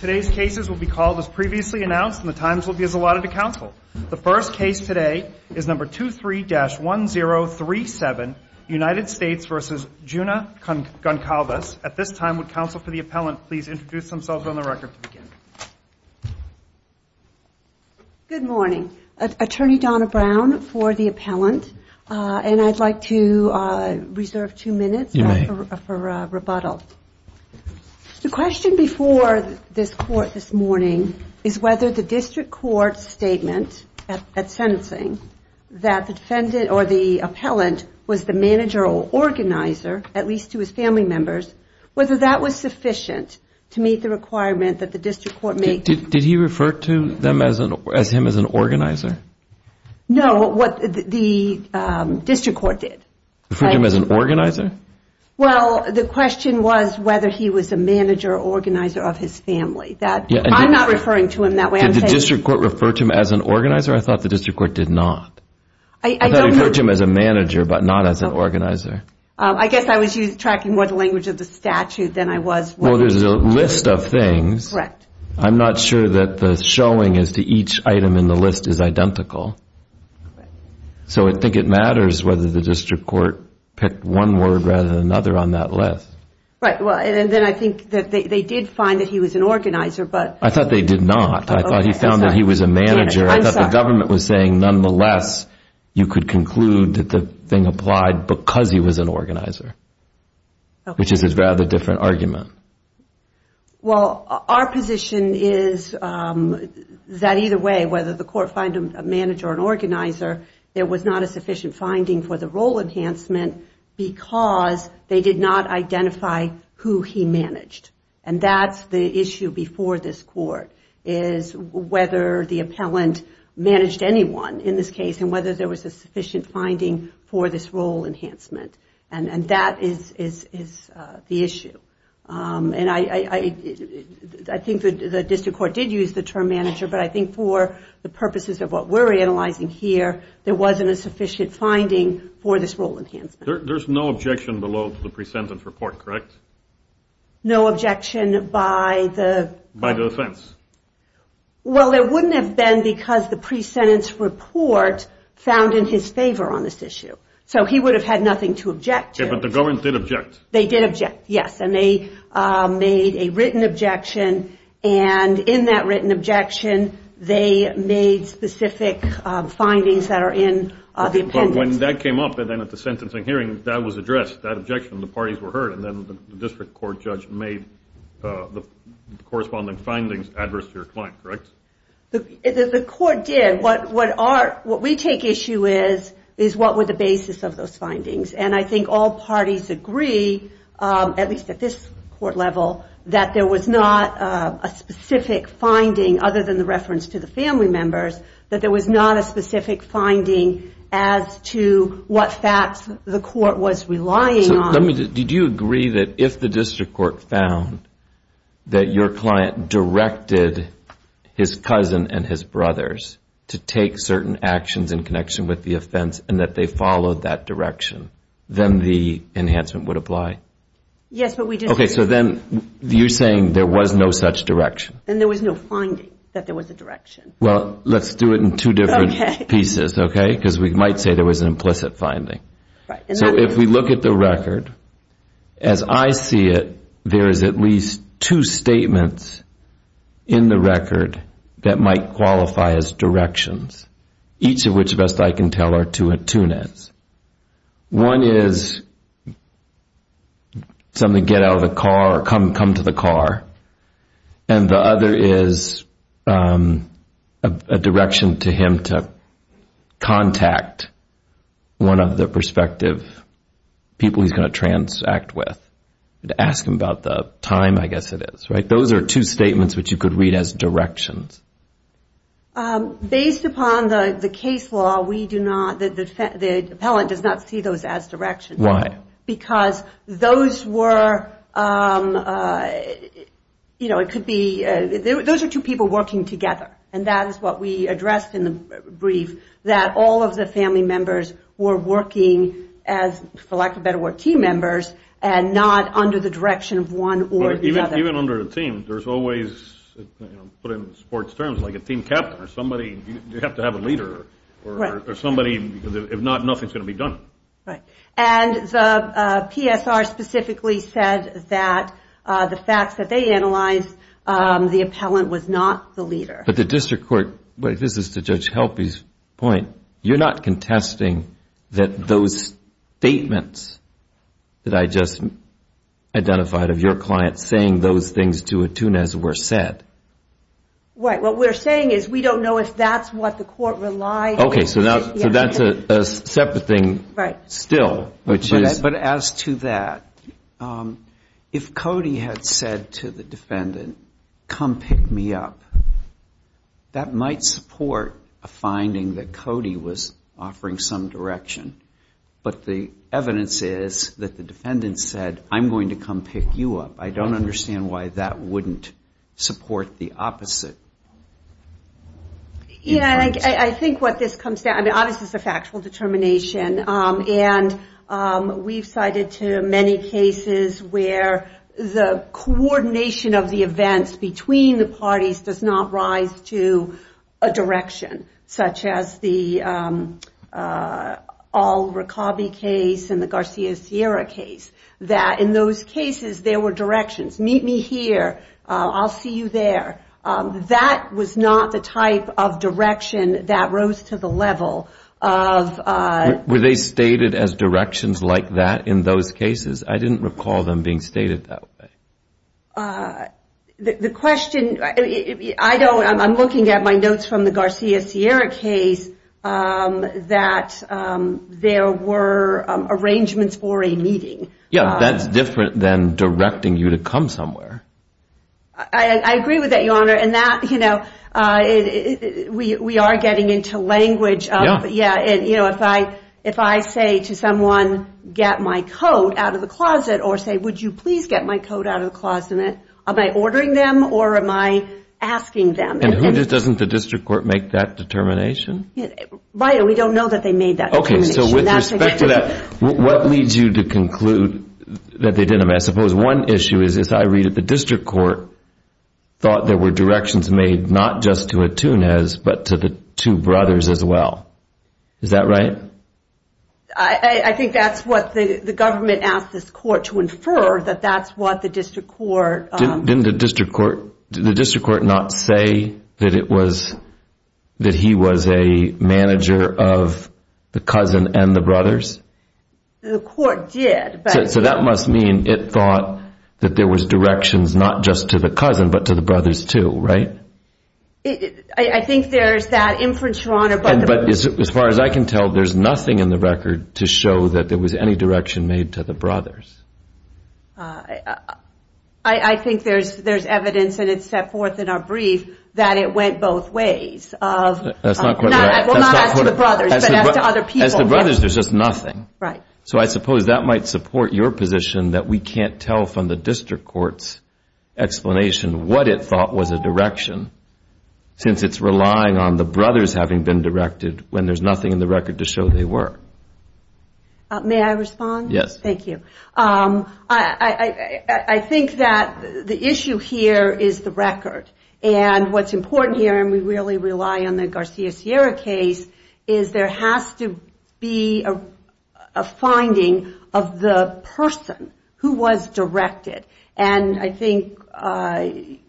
Today's cases will be called as previously announced and the times will be as allotted to counsel. The first case today is number 23-1037 United States v. Juna Goncalves. At this time, would counsel for the appellant please introduce themselves on the record to begin. Good morning. Attorney Donna Brown for the appellant. And I'd like to reserve two minutes for rebuttal. The question before this court this morning is whether the district court's statement at sentencing that the defendant or the appellant was the manager or organizer, at least to his family members, whether that was sufficient to meet the requirement that the district court make... Did he refer to them as him as an organizer? No, what the district court did. Referred him as an organizer? Well, the question was whether he was a manager or organizer of his family. I'm not referring to him that way. Did the district court refer to him as an organizer? I thought the district court did not. I thought it referred to him as a manager, but not as an organizer. I guess I was tracking more the language of the statute than I was... Well, there's a list of things. I'm not sure that the showing as to each item in the list is identical. So I think it matters whether the district court picked one word rather than another on that list. Right, well, and then I think that they did find that he was an organizer, but... I thought they did not. I thought he found that he was a manager. I thought the government was saying, nonetheless, you could conclude that the thing applied because he was an organizer, which is a rather different argument. Well, our position is that either way, whether the court find him a manager or an organizer, there was not a sufficient finding for the role enhancement because they did not identify who he managed. And that's the issue before this court, is whether the appellant managed anyone in this case and whether there was a sufficient finding for this role enhancement. And that is the issue. And I think the district court did use the term manager, but I think for the purposes of what we're analyzing here, there wasn't a sufficient finding for this role enhancement. There's no objection below the pre-sentence report, correct? No objection by the... By the defense. Well, there wouldn't have been because the pre-sentence report found in his favor on this issue. So he would have had nothing to object to. But the government did object. They did object, yes. And they made a written objection. And in that written objection, they made specific findings that are in the appendix. But when that came up and then at the sentencing hearing, that was addressed, that objection, the parties were heard. And then the district court judge made the corresponding findings adverse to your client, correct? The court did. What we take issue with is what were the basis of those findings. And I think all parties agree, at least at this court level, that there was not a specific finding other than the reference to the family members, that there was not a specific finding as to what facts the court was relying on. Did you agree that if the district court found that your client directed his cousin and his brothers to take certain actions in connection with the offense and that they followed that direction, then the enhancement would apply? Yes, but we didn't... Okay, so then you're saying there was no such direction. And there was no finding that there was a direction. Well, let's do it in two different pieces, okay? Because we might say there was an implicit finding. So if we look at the record, as I see it, there is at least two statements in the record that might qualify as directions, each of which, best I can tell, are two and two nets. One is something to get out of the car or come to the car, and the other is a direction to him to contact one of the prospective people he's going to transact with. Ask him about the time, I guess it is, right? Those are two statements which you could read as directions. Based upon the case law, the appellant does not see those as directions. Why? Because those were, you know, it could be... Those are two people working together, and that is what we addressed in the brief, that all of the family members were working as, for lack of a better word, team members, and not under the direction of one or the other. Even under a team, there's always, put in sports terms, like a team captain or somebody. You have to have a leader or somebody, because if not, nothing's going to be done. Right. And the PSR specifically said that the facts that they analyzed, the appellant was not the leader. But the district court, this is to Judge Helpe's point, you're not contesting that those statements that I just identified of your client saying those things to Attunez were said? Right. What we're saying is we don't know if that's what the court relied on. Okay, so that's a separate thing still, which is... But as to that, if Cody had said to the defendant, come pick me up, that might support a finding that Cody was offering some direction. But the evidence is that the defendant said, I'm going to come pick you up. I don't understand why that wouldn't support the opposite. Yeah, I think what this comes down to, obviously it's a factual determination, and we've cited too many cases where the coordination of the events between the parties does not rise to a direction, such as the Al Rokabi case and the Garcia Sierra case. That in those cases, there were directions. Meet me here. I'll see you there. That was not the type of direction that rose to the level of... Were they stated as directions like that in those cases? I didn't recall them being stated that way. The question, I'm looking at my notes from the Garcia Sierra case, that there were arrangements for a meeting. Yeah, that's different than directing you to come somewhere. I agree with that, Your Honor. We are getting into language. If I say to someone, get my coat out of the closet, or say, would you please get my coat out of the closet, am I ordering them or am I asking them? And who doesn't the district court make that determination? Right, we don't know that they made that determination. Okay, so with respect to that, what leads you to conclude that they didn't? I suppose one issue is this. I read that the district court thought there were directions made not just to Atunez, but to the two brothers as well. Is that right? I think that's what the government asked this court to infer, that that's what the district court... Didn't the district court not say that he was a manager of the cousin and the brothers? The court did, but... So that must mean it thought that there was directions not just to the cousin, but to the brothers too, right? I think there's that inference, Your Honor. But as far as I can tell, there's nothing in the record to show that there was any direction made to the brothers. I think there's evidence, and it's set forth in our brief, that it went both ways. Well, not as to the brothers, but as to other people. As to the brothers, there's just nothing. Right. So I suppose that might support your position that we can't tell from the district court's explanation what it thought was a direction, since it's relying on the brothers having been directed when there's nothing in the record to show they were. May I respond? Yes. Thank you. I think that the issue here is the record. And what's important here, and we really rely on the Garcia-Sierra case, is there has to be a finding of the person who was directed. And I think the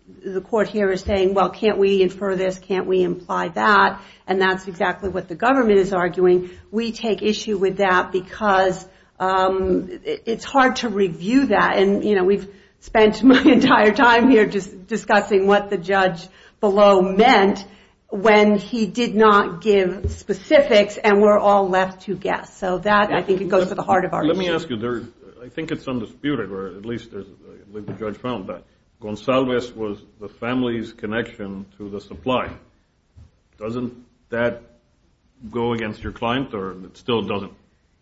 court here is saying, well, can't we infer this, can't we imply that? And that's exactly what the government is arguing. We take issue with that because it's hard to review that. And we've spent my entire time here just discussing what the judge below meant when he did not give specifics, and we're all left to guess. So that, I think, goes to the heart of our issue. Let me ask you, I think it's undisputed, or at least the judge found that, Gonsalves was the family's connection to the supply. Doesn't that go against your client, or it still doesn't?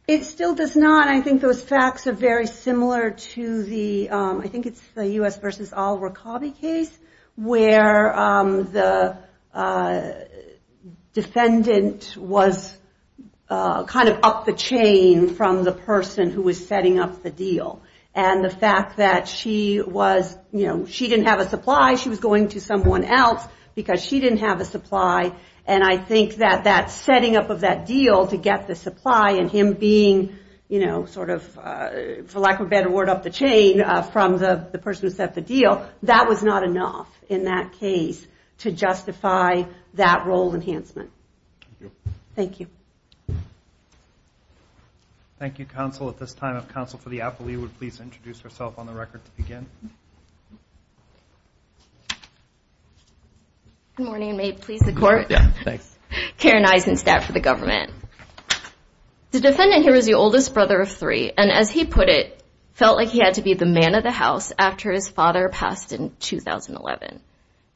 It still does not. I think those facts are very similar to the, I think it's the U.S. versus Al Rokabi case, where the defendant was kind of up the chain from the person who was setting up the deal. And the fact that she was, you know, she didn't have a supply, she was going to someone else because she didn't have a supply. And I think that that setting up of that deal to get the supply, and him being, you know, sort of, for lack of a better word, up the chain from the person who set the deal, that was not enough in that case to justify that role enhancement. Thank you. Thank you, counsel. At this time, if counsel for the appellee would please introduce herself on the record to begin. Good morning, and may it please the court. Yeah, thanks. Karen Eisenstadt for the government. The defendant here is the oldest brother of three, and as he put it, felt like he had to be the man of the house after his father passed in 2011.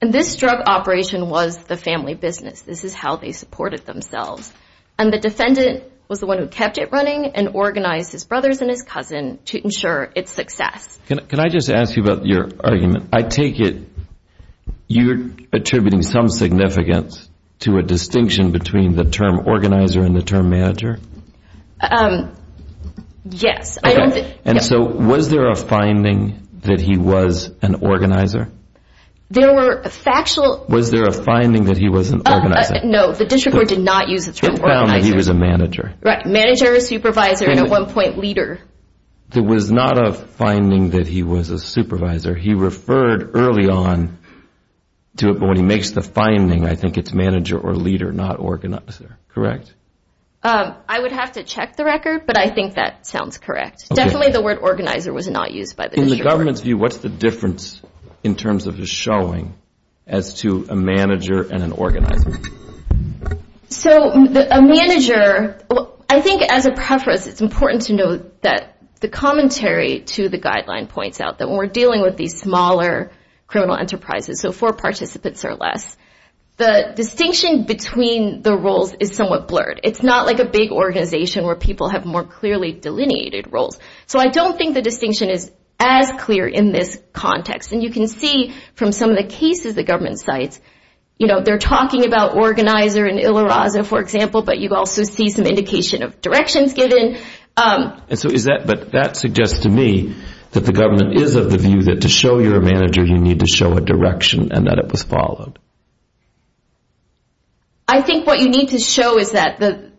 And this drug operation was the family business. This is how they supported themselves. And the defendant was the one who kept it running and organized his brothers and his cousin to ensure its success. Can I just ask you about your argument? I take it you're attributing some significance to a distinction between the term organizer and the term manager? Yes. Okay. And so was there a finding that he was an organizer? There were factual... Was there a finding that he was an organizer? No, the district court did not use the term organizer. It found that he was a manager. Right, manager, supervisor, and at one point leader. There was not a finding that he was a supervisor. He referred early on to it, but when he makes the finding, I think it's manager or leader, not organizer, correct? I would have to check the record, but I think that sounds correct. Definitely the word organizer was not used by the district court. In the government's view, what's the difference in terms of his showing as to a manager and an organizer? So a manager, I think as a preface, it's important to note that the commentary to the guideline points out that when we're dealing with these smaller criminal enterprises, so four participants or less, the distinction between the roles is somewhat blurred. It's not like a big organization where people have more clearly delineated roles. So I don't think the distinction is as clear in this context. And you can see from some of the cases the government cites, they're talking about organizer and Iliraza, for example, but you also see some indication of directions given. But that suggests to me that the government is of the view that to show you're a manager, you need to show a direction and that it was followed. I think what you need to show is that the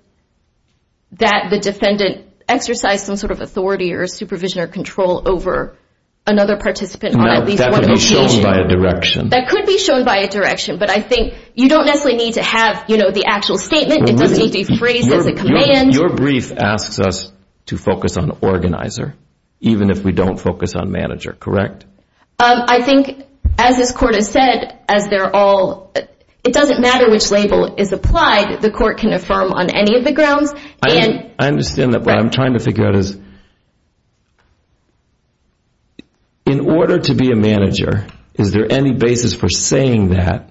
defendant exercised some sort of authority or supervision or control over another participant on at least one occasion. That could be shown by a direction. That could be shown by a direction, but I think you don't necessarily need to have the actual statement. It doesn't need to be phrased as a command. Your brief asks us to focus on organizer, even if we don't focus on manager, correct? I think, as this court has said, it doesn't matter which label is applied. The court can affirm on any of the grounds. I understand that, but what I'm trying to figure out is in order to be a manager, is there any basis for saying that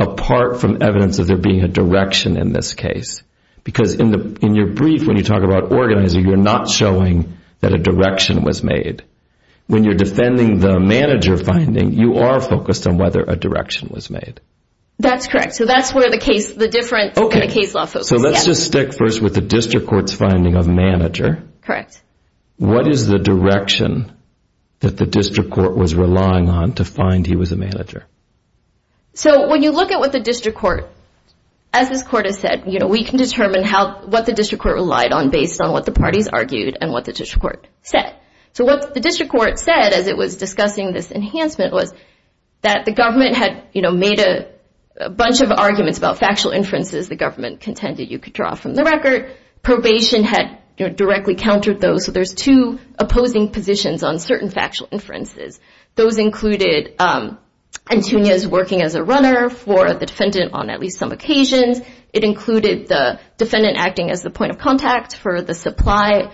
apart from evidence of there being a direction in this case? Because in your brief, when you talk about organizer, you're not showing that a direction was made. When you're defending the manager finding, you are focused on whether a direction was made. That's correct. That's where the difference in the case law focuses. Let's just stick first with the district court's finding of manager. Correct. What is the direction that the district court was relying on to find he was a manager? When you look at what the district court, as this court has said, we can determine what the district court relied on based on what the parties argued and what the district court said. What the district court said as it was discussing this enhancement was that the government had made a bunch of arguments about factual inferences the government contended you could draw from the record. Probation had directly countered those. There's two opposing positions on certain factual inferences. Those included Antunia's working as a runner for the defendant on at least some occasions. It included the defendant acting as the point of contact for the supplier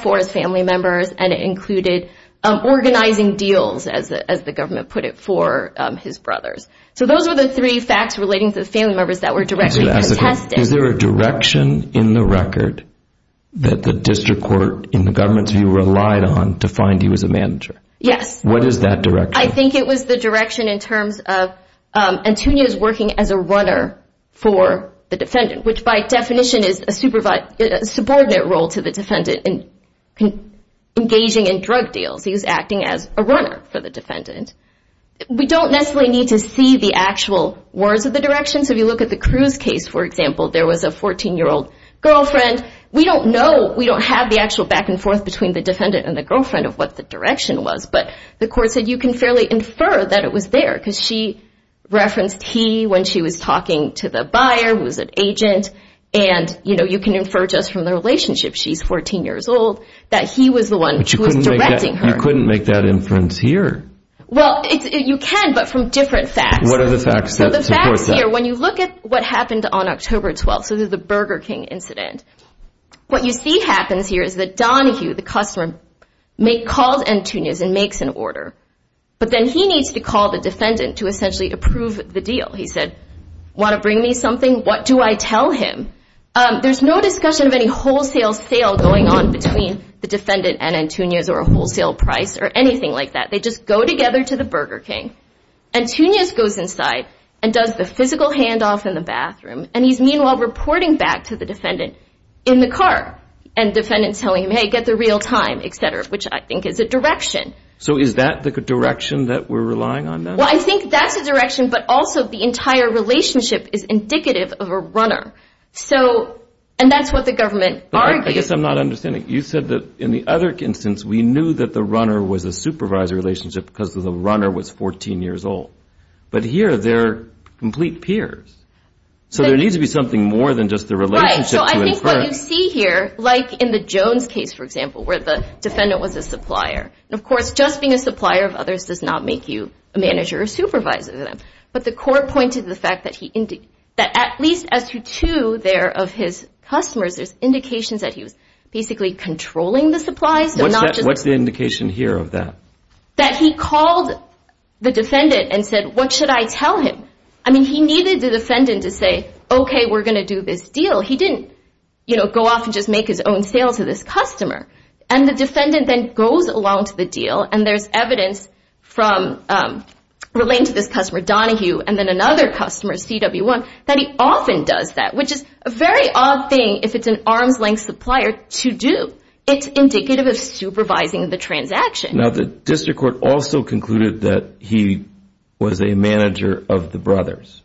for his family members, and it included organizing deals, as the government put it, for his brothers. So those are the three facts relating to the family members that were directly contested. Is there a direction in the record that the district court, in the government's view, relied on to find he was a manager? Yes. What is that direction? I think it was the direction in terms of Antunia's working as a runner for the defendant, which by definition is a subordinate role to the defendant engaging in drug deals. He was acting as a runner for the defendant. We don't necessarily need to see the actual words of the direction, so if you look at the Cruz case, for example, there was a 14-year-old girlfriend. We don't know, we don't have the actual back and forth between the defendant and the girlfriend of what the direction was, but the court said you can fairly infer that it was there because she referenced he when she was talking to the buyer, who was an agent, and you can infer just from the relationship she's 14 years old that he was the one who was directing her. But you couldn't make that inference here. Well, you can, but from different facts. What are the facts that support that? So the facts here, when you look at what happened on October 12th, so the Burger King incident, what you see happens here is that Donahue, the customer, called Antunia's and makes an order, but then he needs to call the defendant to essentially approve the deal. He said, want to bring me something? What do I tell him? There's no discussion of any wholesale sale going on between the defendant and Antunia's or a wholesale price or anything like that. They just go together to the Burger King. Antunia's goes inside and does the physical handoff in the bathroom, and he's meanwhile reporting back to the defendant in the car, and the defendant's telling him, hey, get there real time, et cetera, which I think is a direction. So is that the direction that we're relying on now? Well, I think that's a direction, but also the entire relationship is indicative of a runner, and that's what the government argues. I guess I'm not understanding. You said that in the other instance, we knew that the runner was a supervisor relationship because the runner was 14 years old, but here they're complete peers. So there needs to be something more than just the relationship to a firm. Right, so I think what you see here, like in the Jones case, for example, where the defendant was a supplier, and, of course, just being a supplier of others does not make you a manager or supervisor. But the court pointed to the fact that at least as to two there of his customers, there's indications that he was basically controlling the supplies. What's the indication here of that? That he called the defendant and said, what should I tell him? I mean, he needed the defendant to say, okay, we're going to do this deal. He didn't go off and just make his own sale to this customer. And the defendant then goes along to the deal, and there's evidence relating to this customer, Donahue, and then another customer, CW1, that he often does that, which is a very odd thing if it's an arm's-length supplier to do. It's indicative of supervising the transaction. Now, the district court also concluded that he was a manager of the brothers.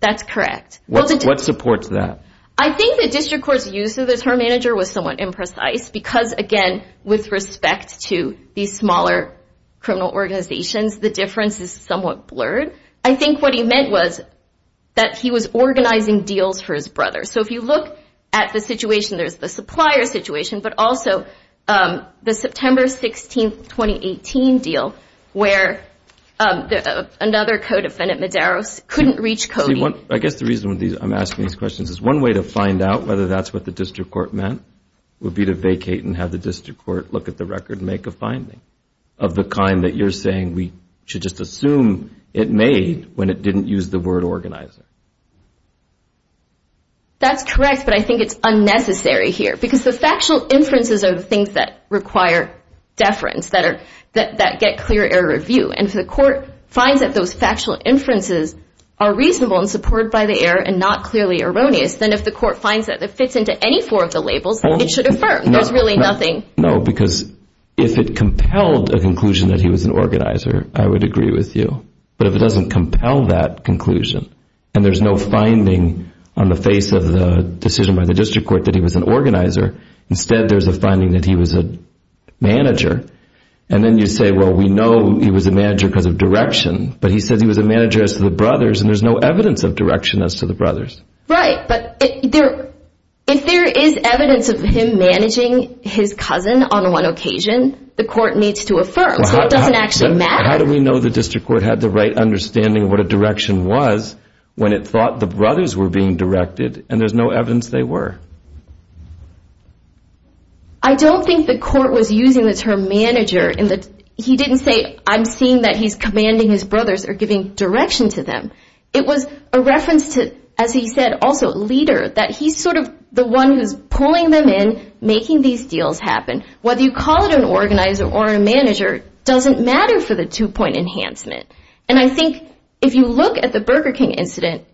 That's correct. What supports that? I think the district court's use of the term manager was somewhat imprecise because, again, with respect to these smaller criminal organizations, the difference is somewhat blurred. I think what he meant was that he was organizing deals for his brother. So if you look at the situation, there's the supplier situation, but also the September 16, 2018 deal where another co-defendant, Medeiros, couldn't reach Coby. I guess the reason I'm asking these questions is one way to find out whether that's what the district court meant would be to vacate and have the district court look at the record and make a finding of the kind that you're saying we should just assume it made when it didn't use the word organizing. That's correct, but I think it's unnecessary here because the factual inferences are the things that require deference, that get clear error of view. And if the court finds that those factual inferences are reasonable, and supported by the error, and not clearly erroneous, then if the court finds that it fits into any four of the labels, it should affirm. There's really nothing. No, because if it compelled a conclusion that he was an organizer, I would agree with you. But if it doesn't compel that conclusion, and there's no finding on the face of the decision by the district court that he was an organizer, instead there's a finding that he was a manager, and then you say, well, we know he was a manager because of direction, but he said he was a manager as to the brothers, and there's no evidence of direction as to the brothers. Right, but if there is evidence of him managing his cousin on one occasion, the court needs to affirm. So it doesn't actually matter. How do we know the district court had the right understanding of what a direction was when it thought the brothers were being directed, and there's no evidence they were? I don't think the court was using the term manager. He didn't say, I'm seeing that he's commanding his brothers or giving direction to them. It was a reference to, as he said also, a leader, that he's sort of the one who's pulling them in, making these deals happen. Whether you call it an organizer or a manager doesn't matter for the two-point enhancement. And I think if you look at the Burger King incident,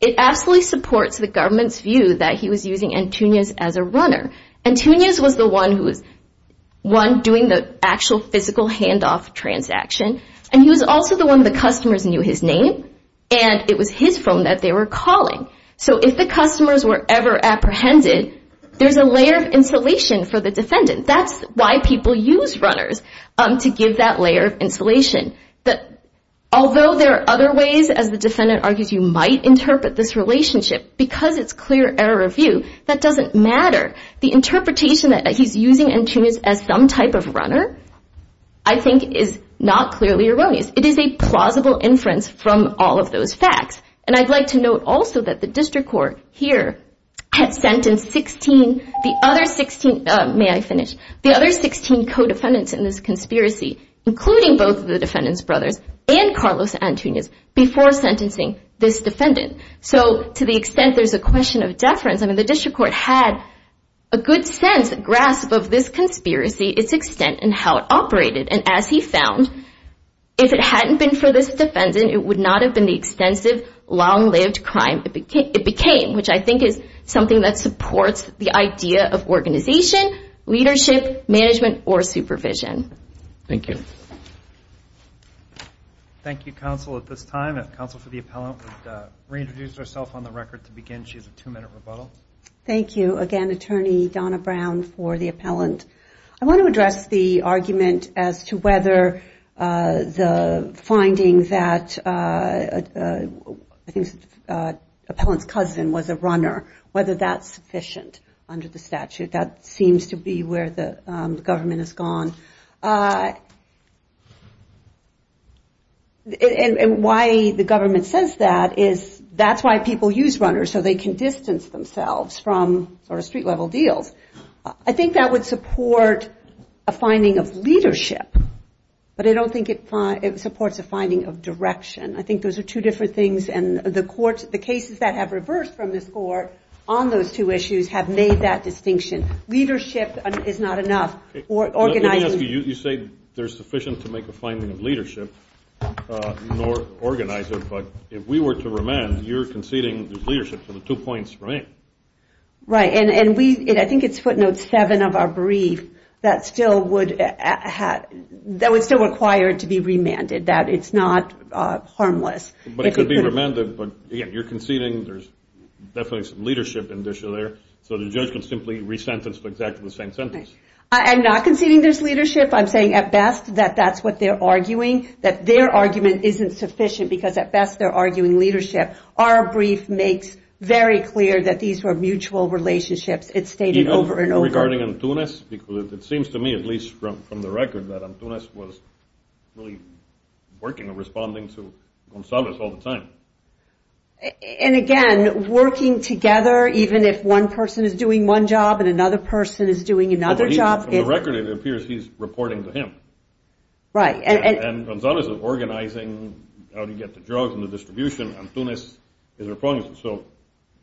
it absolutely supports the government's view that he was using Antunez as a runner. Antunez was the one doing the actual physical handoff transaction, and he was also the one the customers knew his name, and it was his phone that they were calling. So if the customers were ever apprehended, there's a layer of insulation for the defendant. That's why people use runners, to give that layer of insulation. Although there are other ways, as the defendant argues, you might interpret this relationship, because it's clear error of view, that doesn't matter. The interpretation that he's using Antunez as some type of runner, I think, is not clearly erroneous. It is a plausible inference from all of those facts. And I'd like to note also that the district court here had sentenced 16, the other 16, may I finish, the other 16 co-defendants in this conspiracy, including both of the defendant's brothers and Carlos Antunez, before sentencing this defendant. So to the extent there's a question of deference, the district court had a good sense, a grasp of this conspiracy, its extent, and how it operated. And as he found, if it hadn't been for this defendant, it would not have been the extensive, long-lived crime it became, which I think is something that supports the idea of organization, leadership, management, or supervision. Thank you. Thank you, counsel, at this time. Counsel for the appellant would reintroduce herself on the record to begin. She has a two-minute rebuttal. Thank you. Again, Attorney Donna Brown for the appellant. I want to address the argument as to whether the finding that I think the appellant's cousin was a runner, whether that's sufficient under the statute. That seems to be where the government has gone. And why the government says that is that's why people use runners. So they can distance themselves from sort of street-level deals. I think that would support a finding of leadership, but I don't think it supports a finding of direction. I think those are two different things, and the cases that have reversed from this court on those two issues have made that distinction. Leadership is not enough. You say they're sufficient to make a finding of leadership, nor organizer, but if we were to remand, you're conceding there's leadership for the two points, right? Right. And I think it's footnote seven of our brief that would still require to be remanded, that it's not harmless. But it could be remanded, but, again, you're conceding there's definitely some leadership in the issue there, so the judge can simply resentence for exactly the same sentence. I'm not conceding there's leadership. I'm saying at best that that's what they're arguing, that their argument isn't sufficient because at best they're arguing leadership. Our brief makes very clear that these were mutual relationships. It's stated over and over. Regarding Antunes? Because it seems to me, at least from the record, that Antunes was really working and responding to Gonzalez all the time. And, again, working together, even if one person is doing one job and another person is doing another job. From the record, it appears he's reporting to him. Right. And Gonzalez is organizing how to get the drugs and the distribution. Antunes is their opponent. So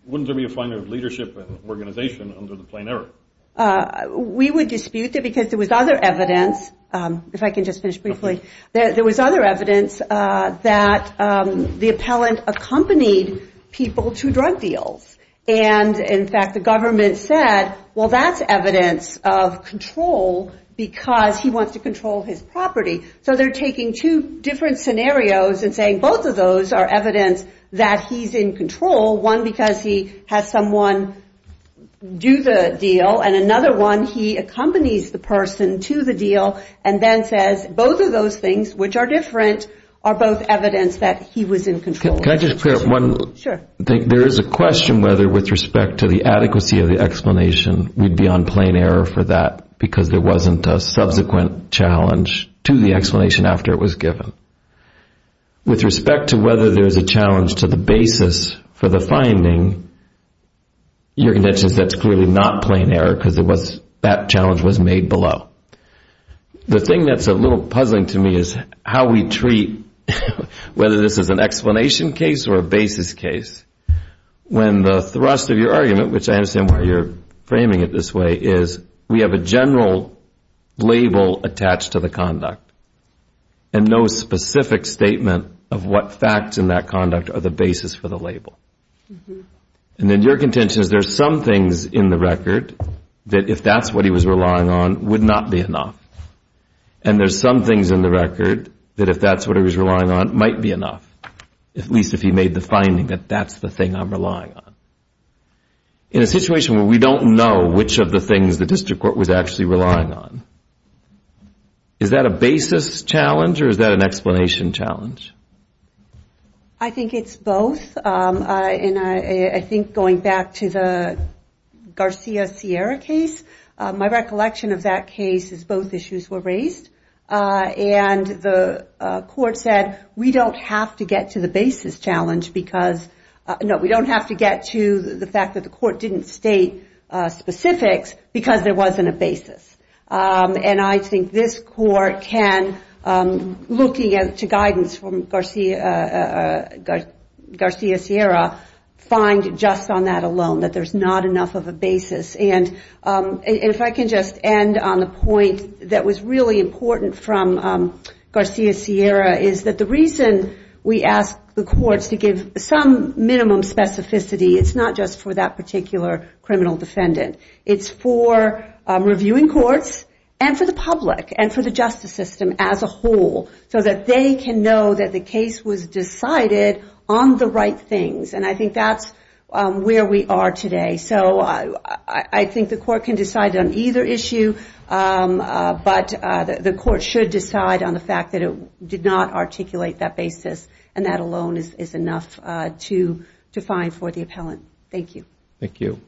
wouldn't there be a finer leadership and organization under the plain error? We would dispute that because there was other evidence, if I can just finish briefly, there was other evidence that the appellant accompanied people to drug deals. And, in fact, the government said, well, that's evidence of control because he wants to control his property. So they're taking two different scenarios and saying both of those are evidence that he's in control, one because he has someone do the deal and another one he accompanies the person to the deal and then says both of those things, which are different, are both evidence that he was in control. Can I just clear up one? Sure. There is a question whether, with respect to the adequacy of the explanation, we'd be on plain error for that because there wasn't a subsequent challenge to the explanation after it was given. With respect to whether there's a challenge to the basis for the finding, your contention is that's clearly not plain error because that challenge was made below. The thing that's a little puzzling to me is how we treat whether this is an explanation case or a basis case when the thrust of your argument, which I understand why you're framing it this way, is we have a general label attached to the conduct and no specific statement of what facts in that conduct are the basis for the label. And then your contention is there's some things in the record that if that's what he was relying on would not be enough. And there's some things in the record that if that's what he was relying on might be enough, at least if he made the finding that that's the thing I'm relying on. In a situation where we don't know which of the things the district court was actually relying on, is that a basis challenge or is that an explanation challenge? I think it's both. I think going back to the Garcia Sierra case, my recollection of that case is both issues were raised. And the court said we don't have to get to the basis challenge because, no, we don't have to get to the fact that the court didn't state specifics because there wasn't a basis. And I think this court can, looking to guidance from Garcia Sierra, find just on that alone that there's not enough of a basis. And if I can just end on the point that was really important from Garcia Sierra is that the reason we ask the courts to give some minimum specificity, it's not just for that particular criminal defendant. It's for reviewing courts and for the public and for the justice system as a whole, so that they can know that the case was decided on the right things. And I think that's where we are today. So I think the court can decide on either issue, but the court should decide on the fact that it did not articulate that basis, and that alone is enough to find for the appellant. Thank you. Thank you.